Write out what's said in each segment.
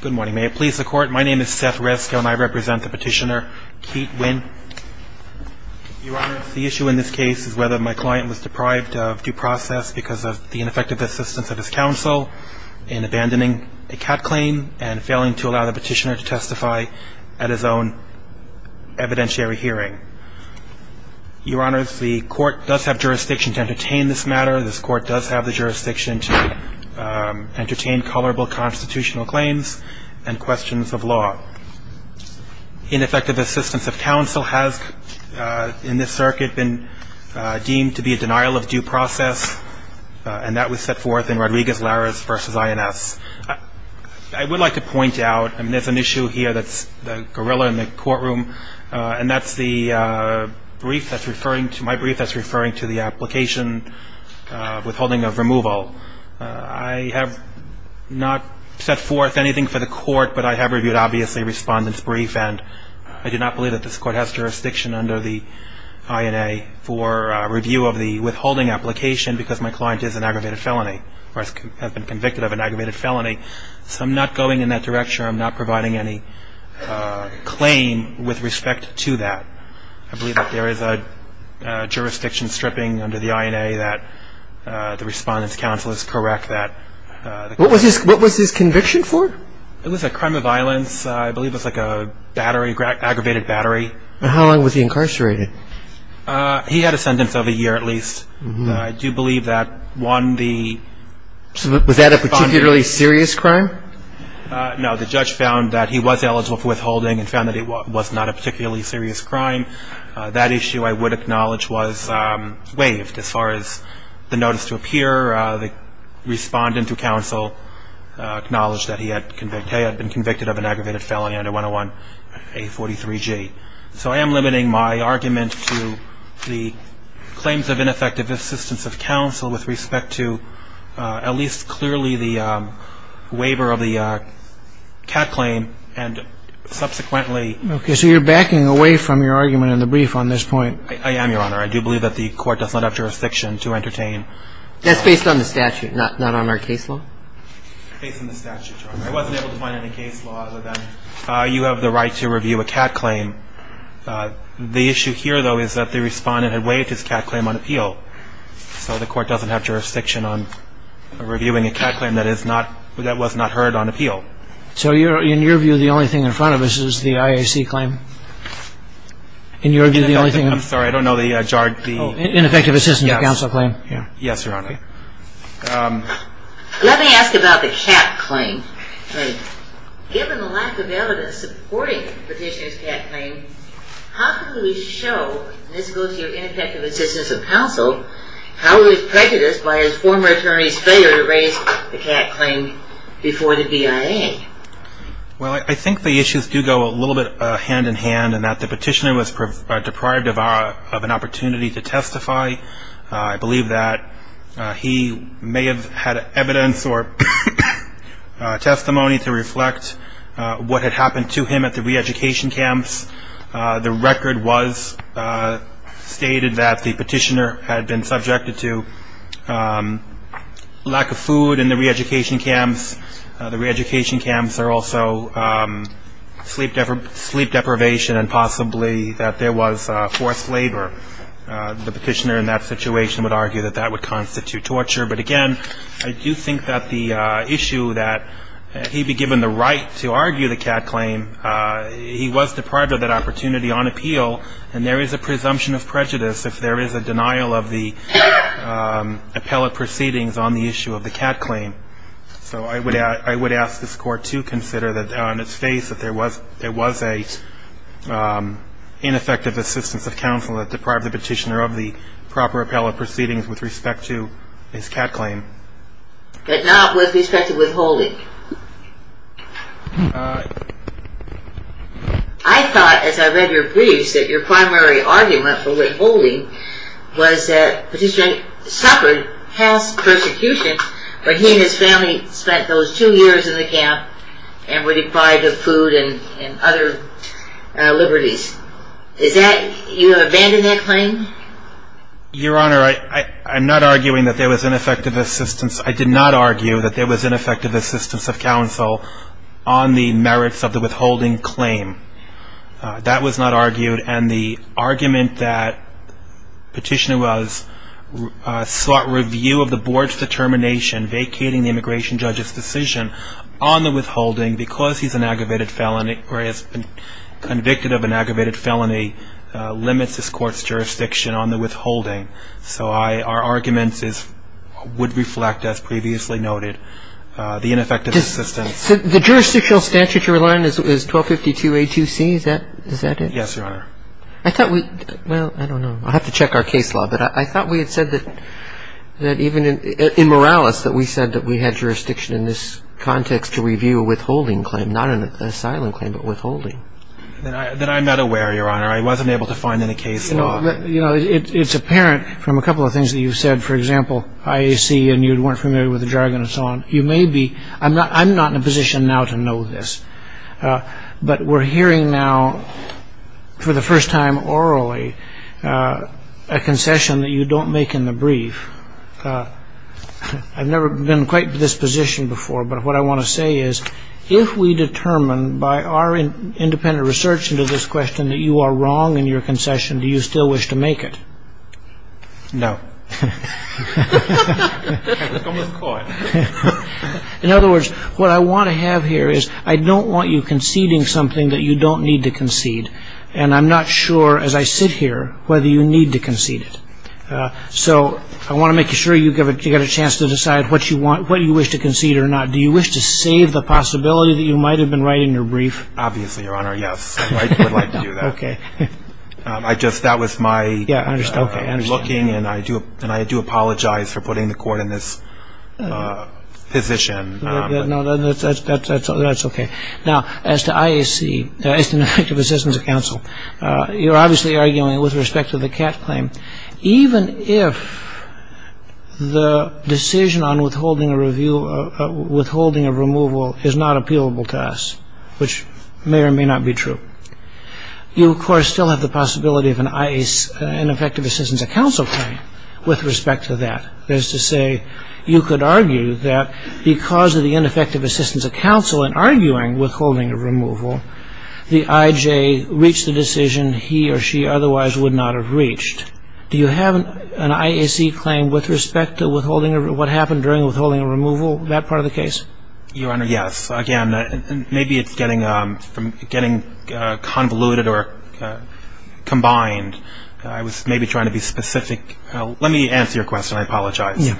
Good morning, may it please the court. My name is Seth Reskill and I represent the petitioner Kiet Nguyen. Your Honor, the issue in this case is whether my client was deprived of due process because of the ineffective assistance of his counsel in abandoning a cat claim and failing to allow the petitioner to testify at his own evidentiary hearing. Your Honor, the court does have jurisdiction to entertain this matter. This court does have the jurisdiction to entertain colorable constitutional claims and questions of law. Ineffective assistance of counsel has in this circuit been deemed to be a denial of due process and that was set forth in Rodriguez-Larez v. INS. I would like to point out, and there's an issue here that's the gorilla in the courtroom, and that's the brief that's referring to my brief that's referring to the application withholding of removal. I have not set forth anything for the court, but I have reviewed obviously Respondent's brief and I do not believe that this court has jurisdiction under the INA for review of the withholding application because my client is an aggravated felony or has been convicted of an aggravated felony. So I'm not going in that direction. I'm not providing any claim with respect to that. I believe that there is a jurisdiction stripping under the INA that the Respondent's counsel is correct that What was his conviction for? It was a crime of violence. I believe it was like a battery, an aggravated battery. How long was he incarcerated? He had a sentence of a year at least. I do believe that one the Was that a particularly serious crime? No, the judge found that he was eligible for withholding and found that it was not a particularly serious crime. That issue I would acknowledge was waived as far as the notice to appear. The Respondent to counsel acknowledged that he had been convicted of an aggravated felony under 101 A43G. So I am limiting my argument to the claims of ineffective assistance of counsel with respect to at least clearly the waiver of the cat claim and subsequently. Okay, so you're backing away from your argument in the brief on this point. I am your honor. I do believe that the court does not have jurisdiction to entertain. That's based on the statute, not on our case law. You have the right to review a cat claim. The issue here though is that the Respondent had waived his cat claim on appeal. So the court doesn't have jurisdiction on reviewing a cat claim that was not heard on appeal. So in your view the only thing in front of us is the IAC claim? In your view the only thing. I'm sorry. I don't know the jarred. The ineffective assistance of counsel claim. Yeah. Yes, Your Honor. Let me ask about the cat claim. Given the lack of evidence supporting the petitioner's cat claim, how can we show, and this goes to your ineffective assistance of counsel, how it was prejudiced by his former attorney's failure to raise the cat claim before the DIA? Well, I think the issues do go a little bit hand-in-hand and that the petitioner was deprived of an opportunity to testify. I believe that he may have had evidence or testimony to reflect what had happened to him at the re-education camps. The record was stated that the petitioner had been subjected to lack of food in the re-education camps. The re-education camps are also sleep deprivation and possibly that there was forced labor. The petitioner in that situation would argue that that would constitute torture. But again, I do think that the issue that he'd be given the right to argue the cat claim, he was deprived of that opportunity on appeal and there is a presumption of prejudice if there is a denial of the appellate proceedings on the issue of the cat claim. So I would ask this court to consider that on its face that there was a ineffective assistance of counsel that deprived the petitioner of the proper appellate proceedings with respect to his cat claim. But not with respect to withholding? I thought, as I read your briefs, that your primary argument for withholding was that the petitioner suffered past persecution, but he and his family spent those two years in the camp and were deprived of food and other liberties. Is that, you have abandoned that claim? Your Honor, I'm not arguing that there was ineffective assistance. I did not argue that there was ineffective assistance of counsel on the merits of the withholding claim. That was not argued and the argument that petitioner was sought review of the board's determination vacating the immigration judge's decision on the withholding because he's an aggravated felony or he has been convicted of an aggravated felony limits this court's jurisdiction on the withholding. So our arguments would reflect, as previously noted, the ineffective assistance. The jurisdictional statute you're relying on is 1252A2C, is that it? Yes, Your Honor. I thought we, well, I don't know. I'll have to check our case law, but I thought we had said that that even in Morales that we said that we had jurisdiction in this context to review a withholding claim, not an asylum claim, but withholding. Then I'm not aware, Your Honor. I wasn't able to find any case law. You know, it's apparent from a couple of things that you've said. For example, IAC and you weren't familiar with the jargon and so on. You may be. I'm not in a position now to know this. But we're hearing now for the first time orally a concession that you don't make in the brief. I've never been quite to this position before, but what I want to say is if we determine by our independent research into this question that you are wrong in your concession, do you still wish to make it? No. In other words, what I want to have here is I don't want you conceding something that you don't need to concede. And I'm not sure as I sit here whether you need to concede it. So I want to make sure you've got a chance to decide what you want, what you wish to concede or not. Do you wish to save the possibility that you might have been right in your brief? Obviously, Your Honor. Yes, I would like to do that. Okay. I just, that was my looking. And I do apologize for putting the court in this position. No, that's okay. Now, as to IAC, as to an effective assistance of counsel, you're obviously arguing with respect to the Catt claim. Even if the decision on withholding a removal is not appealable to us, which may or may not be true, you, of course, still have the possibility of an IAC, an effective assistance of counsel claim with respect to that. That is to say, you could argue that because of the ineffective assistance of counsel in arguing withholding a removal, the IJ reached the decision he or she otherwise would not have reached. Do you have an IAC claim with respect to withholding, what happened during withholding a removal, that part of the case? Your Honor, yes. Again, maybe it's getting convoluted or combined. I was maybe trying to be specific. Let me answer your question. I apologize.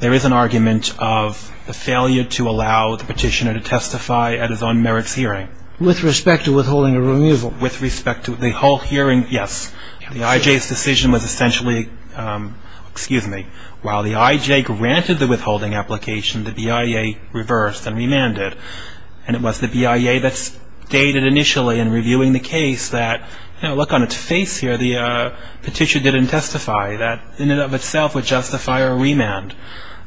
There is an argument of the failure to allow the petitioner to testify at his own merits hearing. With respect to withholding a removal? With respect to the whole hearing, yes. The IJ's decision was essentially, excuse me, while the IJ granted the withholding application, the BIA reversed and remanded. And it was the BIA that stated initially in reviewing the case that, you know, look on its face here, the petitioner didn't testify. That in and of itself would justify a remand.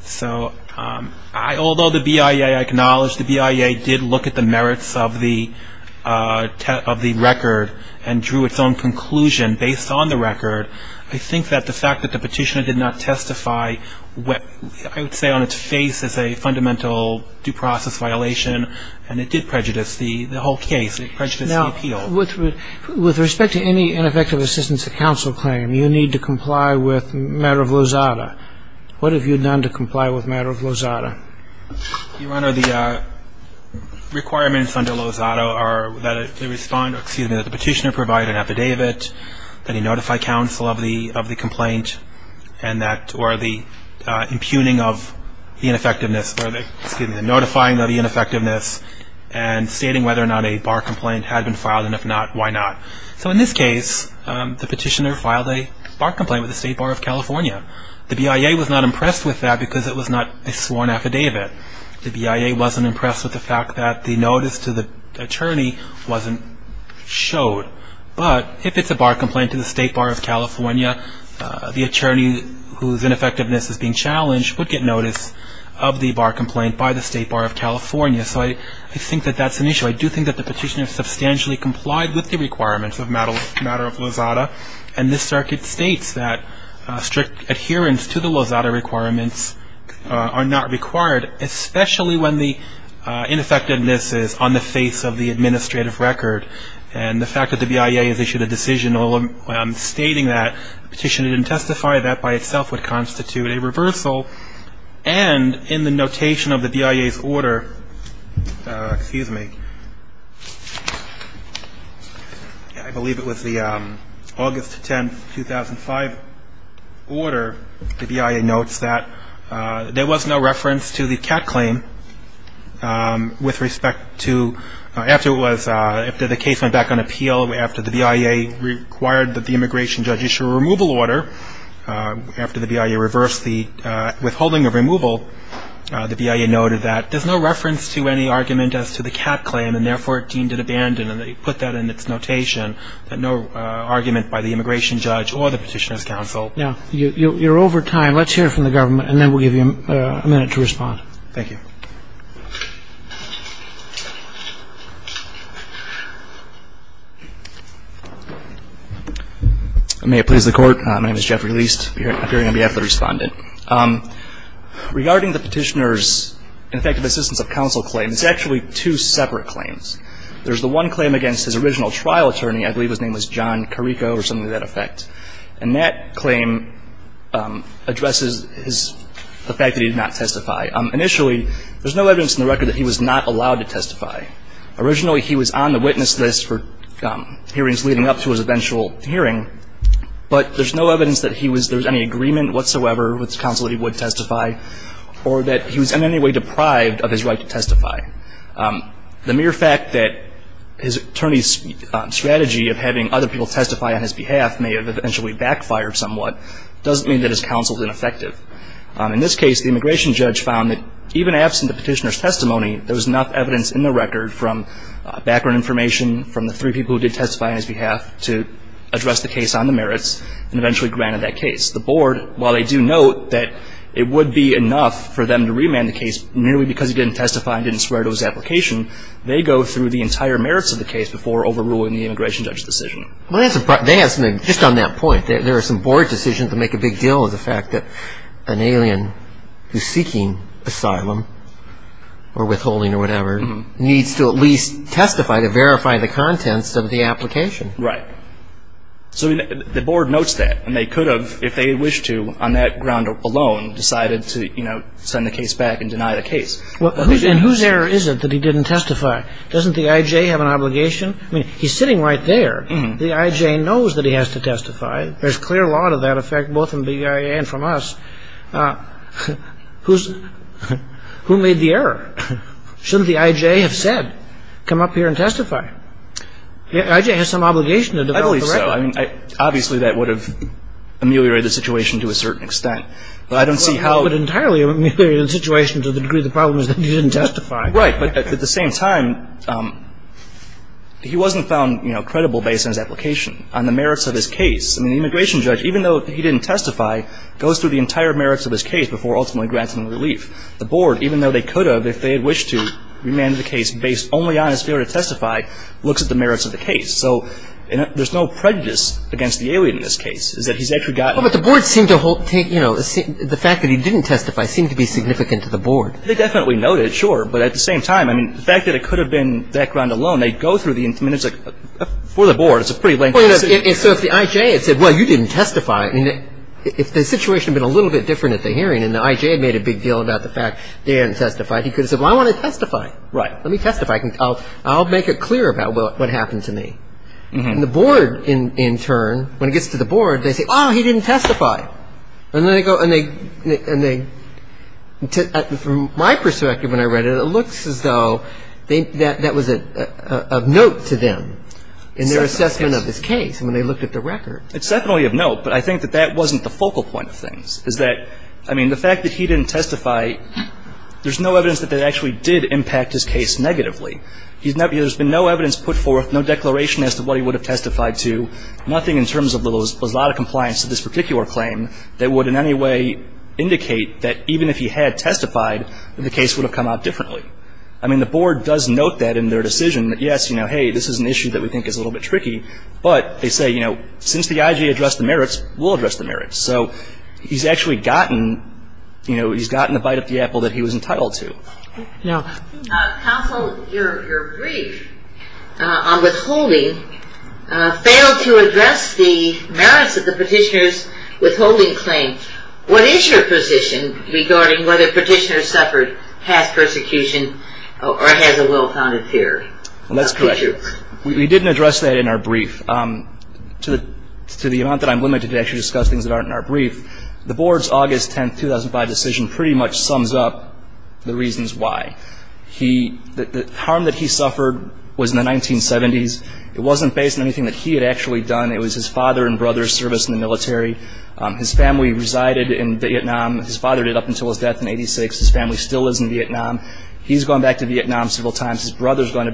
So although the BIA acknowledged the BIA did look at the merits of the record and drew its own conclusion based on the record, I think that the fact that the petitioner did not testify, I would say on its face, is a fundamental due process violation. And it did prejudice the whole case. It prejudiced the appeal. Now, with respect to any ineffective assistance to counsel claim, you need to comply with matter of Lozada. What have you done to comply with matter of Lozada? Your Honor, the requirements under Lozada are that the petitioner provide an epidavit, that he notify counsel of the complaint and that or the impugning of the ineffectiveness, excuse me, the notifying of the ineffectiveness and stating whether or not a bar complaint had been filed and if not, why not. So in this case, the petitioner filed a bar complaint with the State Bar of California. The BIA was not impressed with that because it was not a sworn affidavit. The BIA wasn't impressed with the fact that the notice to the attorney wasn't showed. But if it's a bar complaint to the State Bar of California, the attorney whose ineffectiveness is being challenged would get notice of the bar complaint by the State Bar of California. So I think that that's an issue. I do think that the petitioner substantially complied with the requirements of matter of Lozada. And this circuit states that strict adherence to the Lozada requirements are not required, especially when the ineffectiveness is on the face of the administrative record. And the fact that the BIA has issued a decision stating that, the petitioner didn't testify that by itself would constitute a reversal. And in the notation of the BIA's order, excuse me, I believe it was the August 10, 2005 order, the BIA notes that there was no reference to the cat claim with respect to, after it was, after the case went back on appeal, after the BIA required that the immigration judge issue a removal order, after the BIA reversed the withholding of removal, the BIA noted that there's no reference to any argument as to the cat claim, and therefore it deemed it abandoned. And they put that in its notation, that no argument by the immigration judge or the petitioner's counsel. Now, you're over time. Let's hear from the government, and then we'll give you a minute to respond. Thank you. May it please the Court. My name is Jeffrey Leist, appearing on behalf of the Respondent. Regarding the petitioner's ineffective assistance of counsel claim, it's actually two separate claims. There's the one claim against his original trial attorney, I believe his name was John Carrico or something to that effect. And that claim addresses his, the fact that he did not testify. Initially, there's no evidence in the record that he was not allowed to testify. Originally, he was on the witness list for hearings leading up to his eventual hearing, but there's no evidence that he was, there was any agreement whatsoever with the counsel that he would testify, or that he was in any way deprived of his right to testify. The mere fact that his attorney's strategy of having other people testify on his behalf may have eventually backfired somewhat, doesn't mean that his counsel is ineffective. In this case, the immigration judge found that even absent the petitioner's testimony, there was enough evidence in the record from background information, from the three people who did testify on his behalf to address the case on the merits, and eventually granted that case. The board, while they do note that it would be enough for them to remand the case, merely because he didn't testify and didn't swear to his application, they go through the entire merits of the case before overruling the immigration judge's decision. Well, that's a problem. Just on that point, there are some board decisions that make a big deal of the fact that an alien who's seeking asylum or withholding or whatever needs to at least testify to verify the contents of the application. Right. So the board notes that, and they could have, if they wished to, on that ground alone decided to send the case back and deny the case. And whose error is it that he didn't testify? Doesn't the I.J. have an obligation? I mean, he's sitting right there. The I.J. knows that he has to testify. There's clear law to that effect, both from BIA and from us. Who made the error? Shouldn't the I.J. have said, come up here and testify? The I.J. has some obligation to develop the record. I believe so. Obviously, that would have ameliorated the situation to a certain extent. But I don't see how it would entirely ameliorate the situation to the degree the problem is that he didn't testify. Right. But at the same time, he wasn't found, you know, credible based on his application, on the merits of his case. I mean, the immigration judge, even though he didn't testify, goes through the entire merits of his case before ultimately granting relief. The board, even though they could have, if they had wished to, remanded the case based only on his failure to testify, looks at the merits of the case. So there's no prejudice against the alien in this case. It's that he's actually gotten the case. Well, but the board seemed to hold, you know, the fact that he didn't testify seemed to be significant to the board. They definitely noted, sure. But at the same time, I mean, the fact that it could have been background alone, they go through the minutes before the board. It's a pretty lengthy case. And so if the I.J. had said, well, you didn't testify, I mean, if the situation had been a little bit different at the hearing and the I.J. had made a big deal about the fact that he hadn't testified, he could have said, well, I want to testify. Right. Let me testify. I'll make it clear about what happened to me. And the board, in turn, when it gets to the board, they say, oh, he didn't testify. And then they go and they, from my perspective when I read it, it looks as though that was of note to them in their assessment of this case when they looked at the record. It's definitely of note, but I think that that wasn't the focal point of things, is that, I mean, the fact that he didn't testify, there's no evidence that that actually did impact his case negatively. There's been no evidence put forth, no declaration as to what he would have testified to, nothing in terms of there was a lot of compliance to this particular claim that would in any way indicate that even if he had testified, the case would have come out differently. I mean, the board does note that in their decision, that, yes, you know, hey, this is an issue that we think is a little bit tricky, but they say, you know, since the I.J. addressed the merits, we'll address the merits. So he's actually gotten, you know, he's gotten the bite of the apple that he was entitled to. Counsel, your brief on withholding failed to address the merits of the petitioner's withholding claim. What is your position regarding whether the petitioner suffered past persecution or has a well-founded fear? That's correct. We didn't address that in our brief. To the amount that I'm limited to actually discuss things that aren't in our brief, the board's August 10, 2005 decision pretty much sums up the reasons why. The harm that he suffered was in the 1970s. It wasn't based on anything that he had actually done. It was his father and brother's service in the military. His family resided in Vietnam. His father did up until his death in 86. His family still lives in Vietnam. He's gone back to Vietnam several times. His brother's gone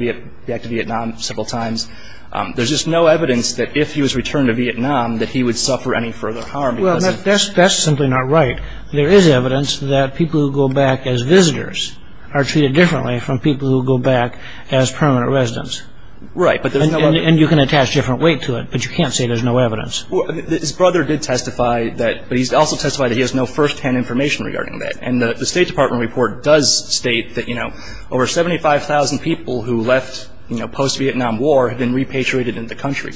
back to Vietnam several times. There's just no evidence that if he was returned to Vietnam that he would suffer any further harm. Well, that's simply not right. There is evidence that people who go back as visitors are treated differently from people who go back as permanent residents. Right, but there's no evidence. And you can attach a different weight to it, but you can't say there's no evidence. Well, his brother did testify that, but he's also testified that he has no firsthand information regarding that. And the State Department report does state that, you know, over 75,000 people who left post-Vietnam War had been repatriated into the country.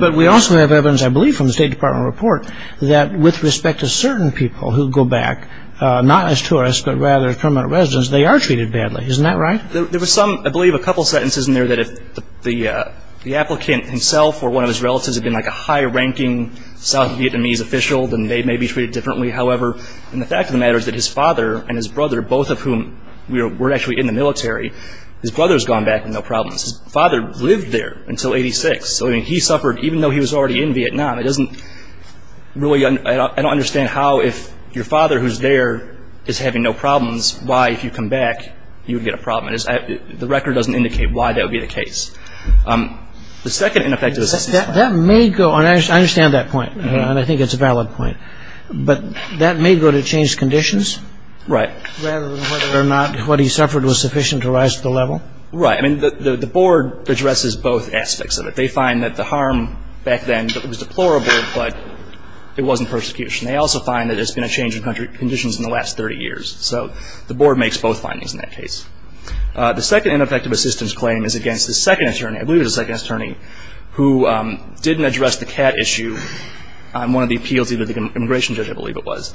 But we also have evidence, I believe, from the State Department report, that with respect to certain people who go back not as tourists but rather as permanent residents, they are treated badly. Isn't that right? There was some, I believe, a couple of sentences in there that if the applicant himself or one of his relatives had been like a high-ranking South Vietnamese official, then they may be treated differently. However, the fact of the matter is that his father and his brother, both of whom were actually in the military, his brother's gone back with no problems. His father lived there until 86. So, I mean, he suffered, even though he was already in Vietnam, it doesn't really, I don't understand how if your father who's there is having no problems, why if you come back you would get a problem. The record doesn't indicate why that would be the case. The second ineffective assessment. That may go, and I understand that point, and I think it's a valid point, but that may go to changed conditions. Right. Rather than whether or not what he suffered was sufficient to rise to the level. Right. I mean, the board addresses both aspects of it. They find that the harm back then was deplorable, but it wasn't persecution. They also find that it's been a change in conditions in the last 30 years. So the board makes both findings in that case. The second ineffective assistance claim is against the second attorney, I believe it was the second attorney, who didn't address the cat issue on one of the appeals either the immigration judge, I believe it was.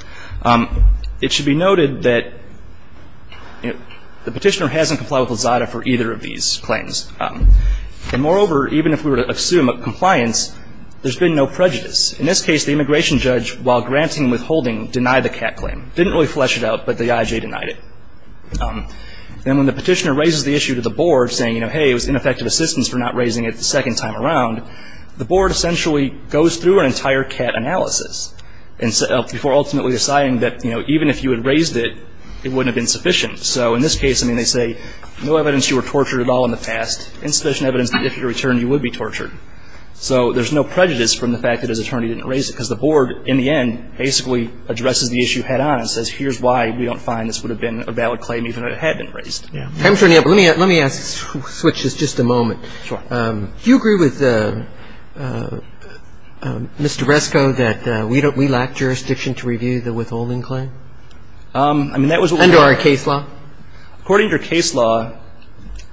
It should be noted that the petitioner hasn't complied with Lazada for either of these claims. And moreover, even if we were to assume compliance, there's been no prejudice. In this case, the immigration judge, while granting and withholding, denied the cat claim. Didn't really flesh it out, but the IJ denied it. And when the petitioner raises the issue to the board saying, you know, hey, it was ineffective assistance for not raising it the second time around, the board essentially goes through an entire cat analysis before ultimately deciding that, you know, even if you had raised it, it wouldn't have been sufficient. So in this case, I mean, they say no evidence you were tortured at all in the past, insufficient evidence that if you returned, you would be tortured. So there's no prejudice from the fact that his attorney didn't raise it, because the board, in the end, basically addresses the issue head on and says, here's why we don't find this would have been a valid claim even if it had been raised. Let me ask, switch this just a moment. Sure. Do you agree with Mr. Rescoe that we lack jurisdiction to review the withholding claim? I mean, that was what we were. Under our case law? According to our case law,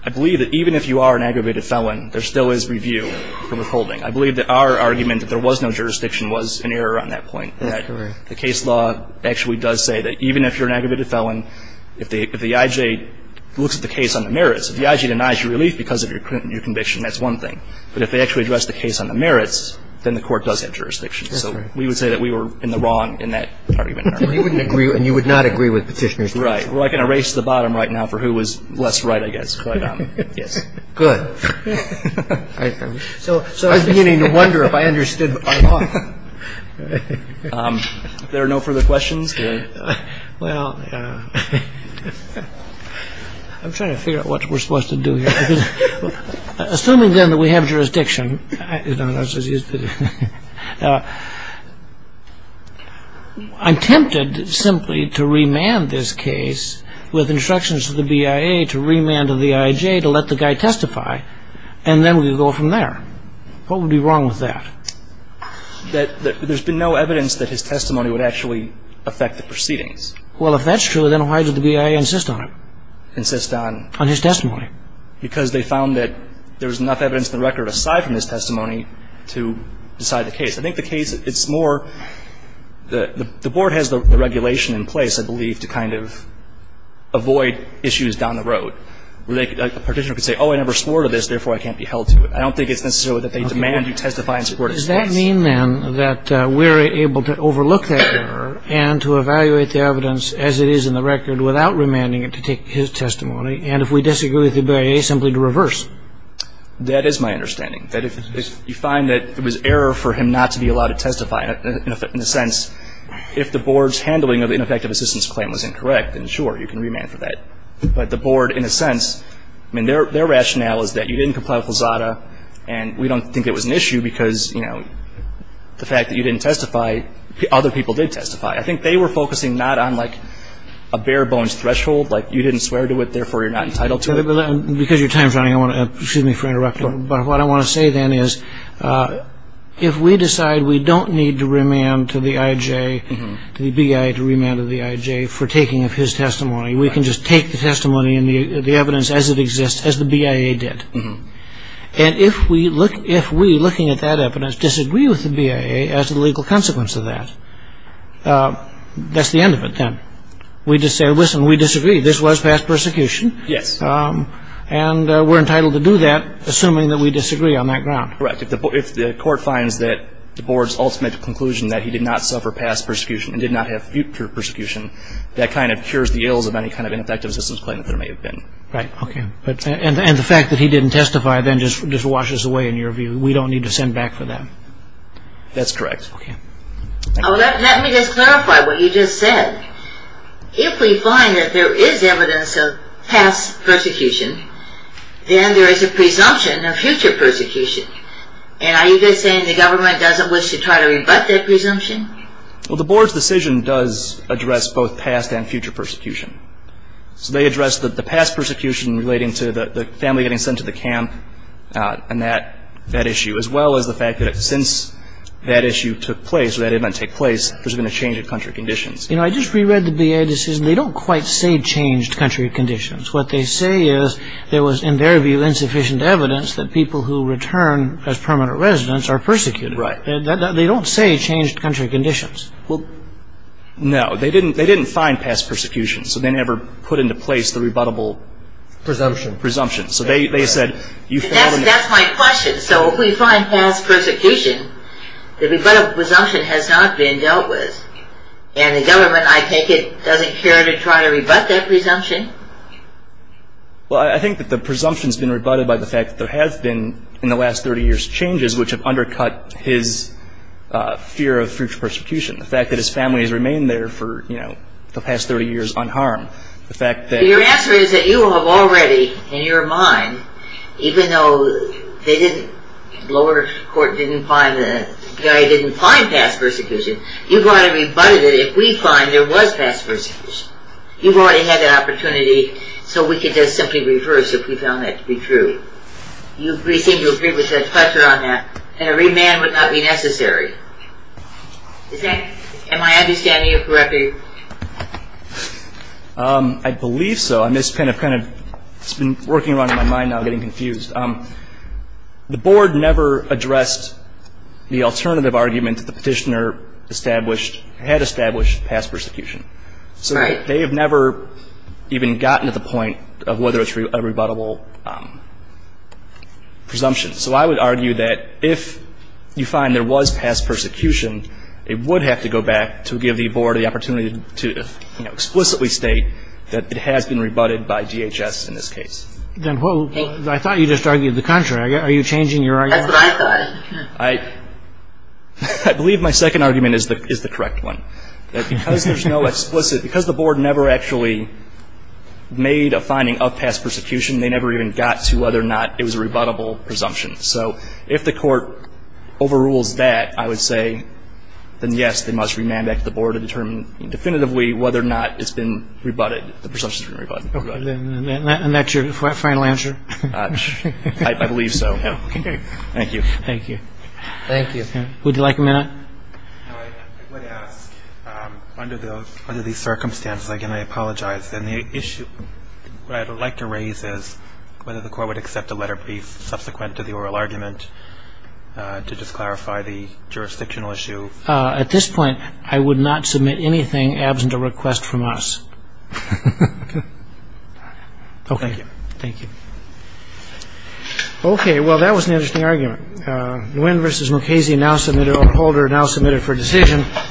I believe that even if you are an aggravated felon, there still is review for withholding. I believe that our argument that there was no jurisdiction was an error on that point. The case law actually does say that even if you're an aggravated felon, if the IJ looks at the case on the merits, if the IJ denies your relief because of your conviction, that's one thing. But if they actually address the case on the merits, then the court does have jurisdiction. So we would say that we were in the wrong in that argument. You wouldn't agree, and you would not agree with Petitioner's view. Right. Well, I can erase the bottom right now for who was less right, I guess. But, yes. Good. So I was beginning to wonder if I understood my law. If there are no further questions. Well, I'm trying to figure out what we're supposed to do here. Assuming, then, that we have jurisdiction, I'm tempted simply to remand this case with instructions to the BIA to remand to the IJ to let the guy testify, and then we go from there. What would be wrong with that? There's been no evidence that his testimony would actually affect the proceedings. Well, if that's true, then why did the BIA insist on it? Insist on? On his testimony. Because they found that there was enough evidence in the record aside from his testimony to decide the case. I think the case, it's more, the Board has the regulation in place, I believe, to kind of avoid issues down the road. A petitioner could say, oh, I never swore to this, therefore I can't be held to it. I don't think it's necessarily that they demand you testify in support of this case. Does that mean, then, that we're able to overlook that error and to evaluate the evidence as it is in the record without remanding it to take his testimony, and if we disagree with the BIA, simply to reverse? That is my understanding, that if you find that it was error for him not to be allowed to testify, in a sense, if the Board's handling of the ineffective assistance claim was incorrect, then sure, you can remand for that. But the Board, in a sense, I mean, their rationale is that you didn't comply with WZADA, and we don't think it was an issue because, you know, the fact that you didn't testify, other people did testify. I think they were focusing not on, like, a bare-bones threshold, like, you didn't swear to it, therefore you're not entitled to it. Because your time's running, I want to, excuse me for interrupting, but what I want to say, then, is if we decide we don't need to remand to the IJ, to the BIA to remand to the IJ for taking of his testimony, we can just take the testimony and the evidence as it exists, as the BIA did. And if we, looking at that evidence, disagree with the BIA as a legal consequence of that, that's the end of it, then. We just say, listen, we disagree. This was past persecution. Yes. And we're entitled to do that, assuming that we disagree on that ground. Correct. If the Court finds that the Board's ultimate conclusion, that he did not suffer past persecution and did not have future persecution, that kind of cures the ills of any kind of ineffective assistance claim that there may have been. Right. Okay. And the fact that he didn't testify then just washes away, in your view, we don't need to send back for that? That's correct. Okay. Let me just clarify what you just said. If we find that there is evidence of past persecution, then there is a presumption of future persecution. And are you just saying the government doesn't wish to try to rebut that presumption? Well, the Board's decision does address both past and future persecution. So they address the past persecution relating to the family getting sent to the camp and that issue, as well as the fact that since that issue took place or that event took place, there's been a change in country conditions. You know, I just reread the B.A. decision. They don't quite say changed country conditions. What they say is there was, in their view, insufficient evidence that people who return as permanent residents are persecuted. Right. They don't say changed country conditions. Well, no. They didn't find past persecution. So they never put into place the rebuttable presumption. Presumption. That's my question. So if we find past persecution, the rebuttable presumption has not been dealt with, and the government, I take it, doesn't care to try to rebut that presumption? Well, I think that the presumption's been rebutted by the fact that there have been, in the last 30 years, changes which have undercut his fear of future persecution. The fact that his family has remained there for, you know, the past 30 years unharmed. The fact that- Your answer is that you have already, in your mind, even though they didn't, the lower court didn't find, the B.I.A. didn't find past persecution, you've already rebutted it if we find there was past persecution. You've already had the opportunity so we could just simply reverse if we found that to be true. You seem to agree with Judge Fletcher on that. And a remand would not be necessary. Am I understanding you correctly? I believe so. I'm just kind of, kind of, it's been working around in my mind now, getting confused. The board never addressed the alternative argument that the petitioner established, had established, past persecution. Right. They have never even gotten to the point of whether it's a rebuttable presumption. So I would argue that if you find there was past persecution, it would have to go back to give the board the opportunity to, you know, explicitly state that it has been rebutted by DHS in this case. I thought you just argued the contrary. Are you changing your argument? That's what I thought. I believe my second argument is the correct one. Because there's no explicit, because the board never actually made a finding of past persecution, they never even got to whether or not it was a rebuttable presumption. So if the court overrules that, I would say then, yes, they must remand back to the board to determine definitively whether or not it's been rebutted, the presumption has been rebutted. And that's your final answer? I believe so. Thank you. Thank you. Thank you. Would you like a minute? No, I would ask, under these circumstances, again, I apologize. And the issue I would like to raise is whether the court would accept a letter be subsequent to the oral argument to just clarify the jurisdictional issue. At this point, I would not submit anything absent a request from us. Okay. Thank you. Thank you. Okay. Well, that was an interesting argument. Nguyen versus Mukasey now submitted or Holder now submitted for decision.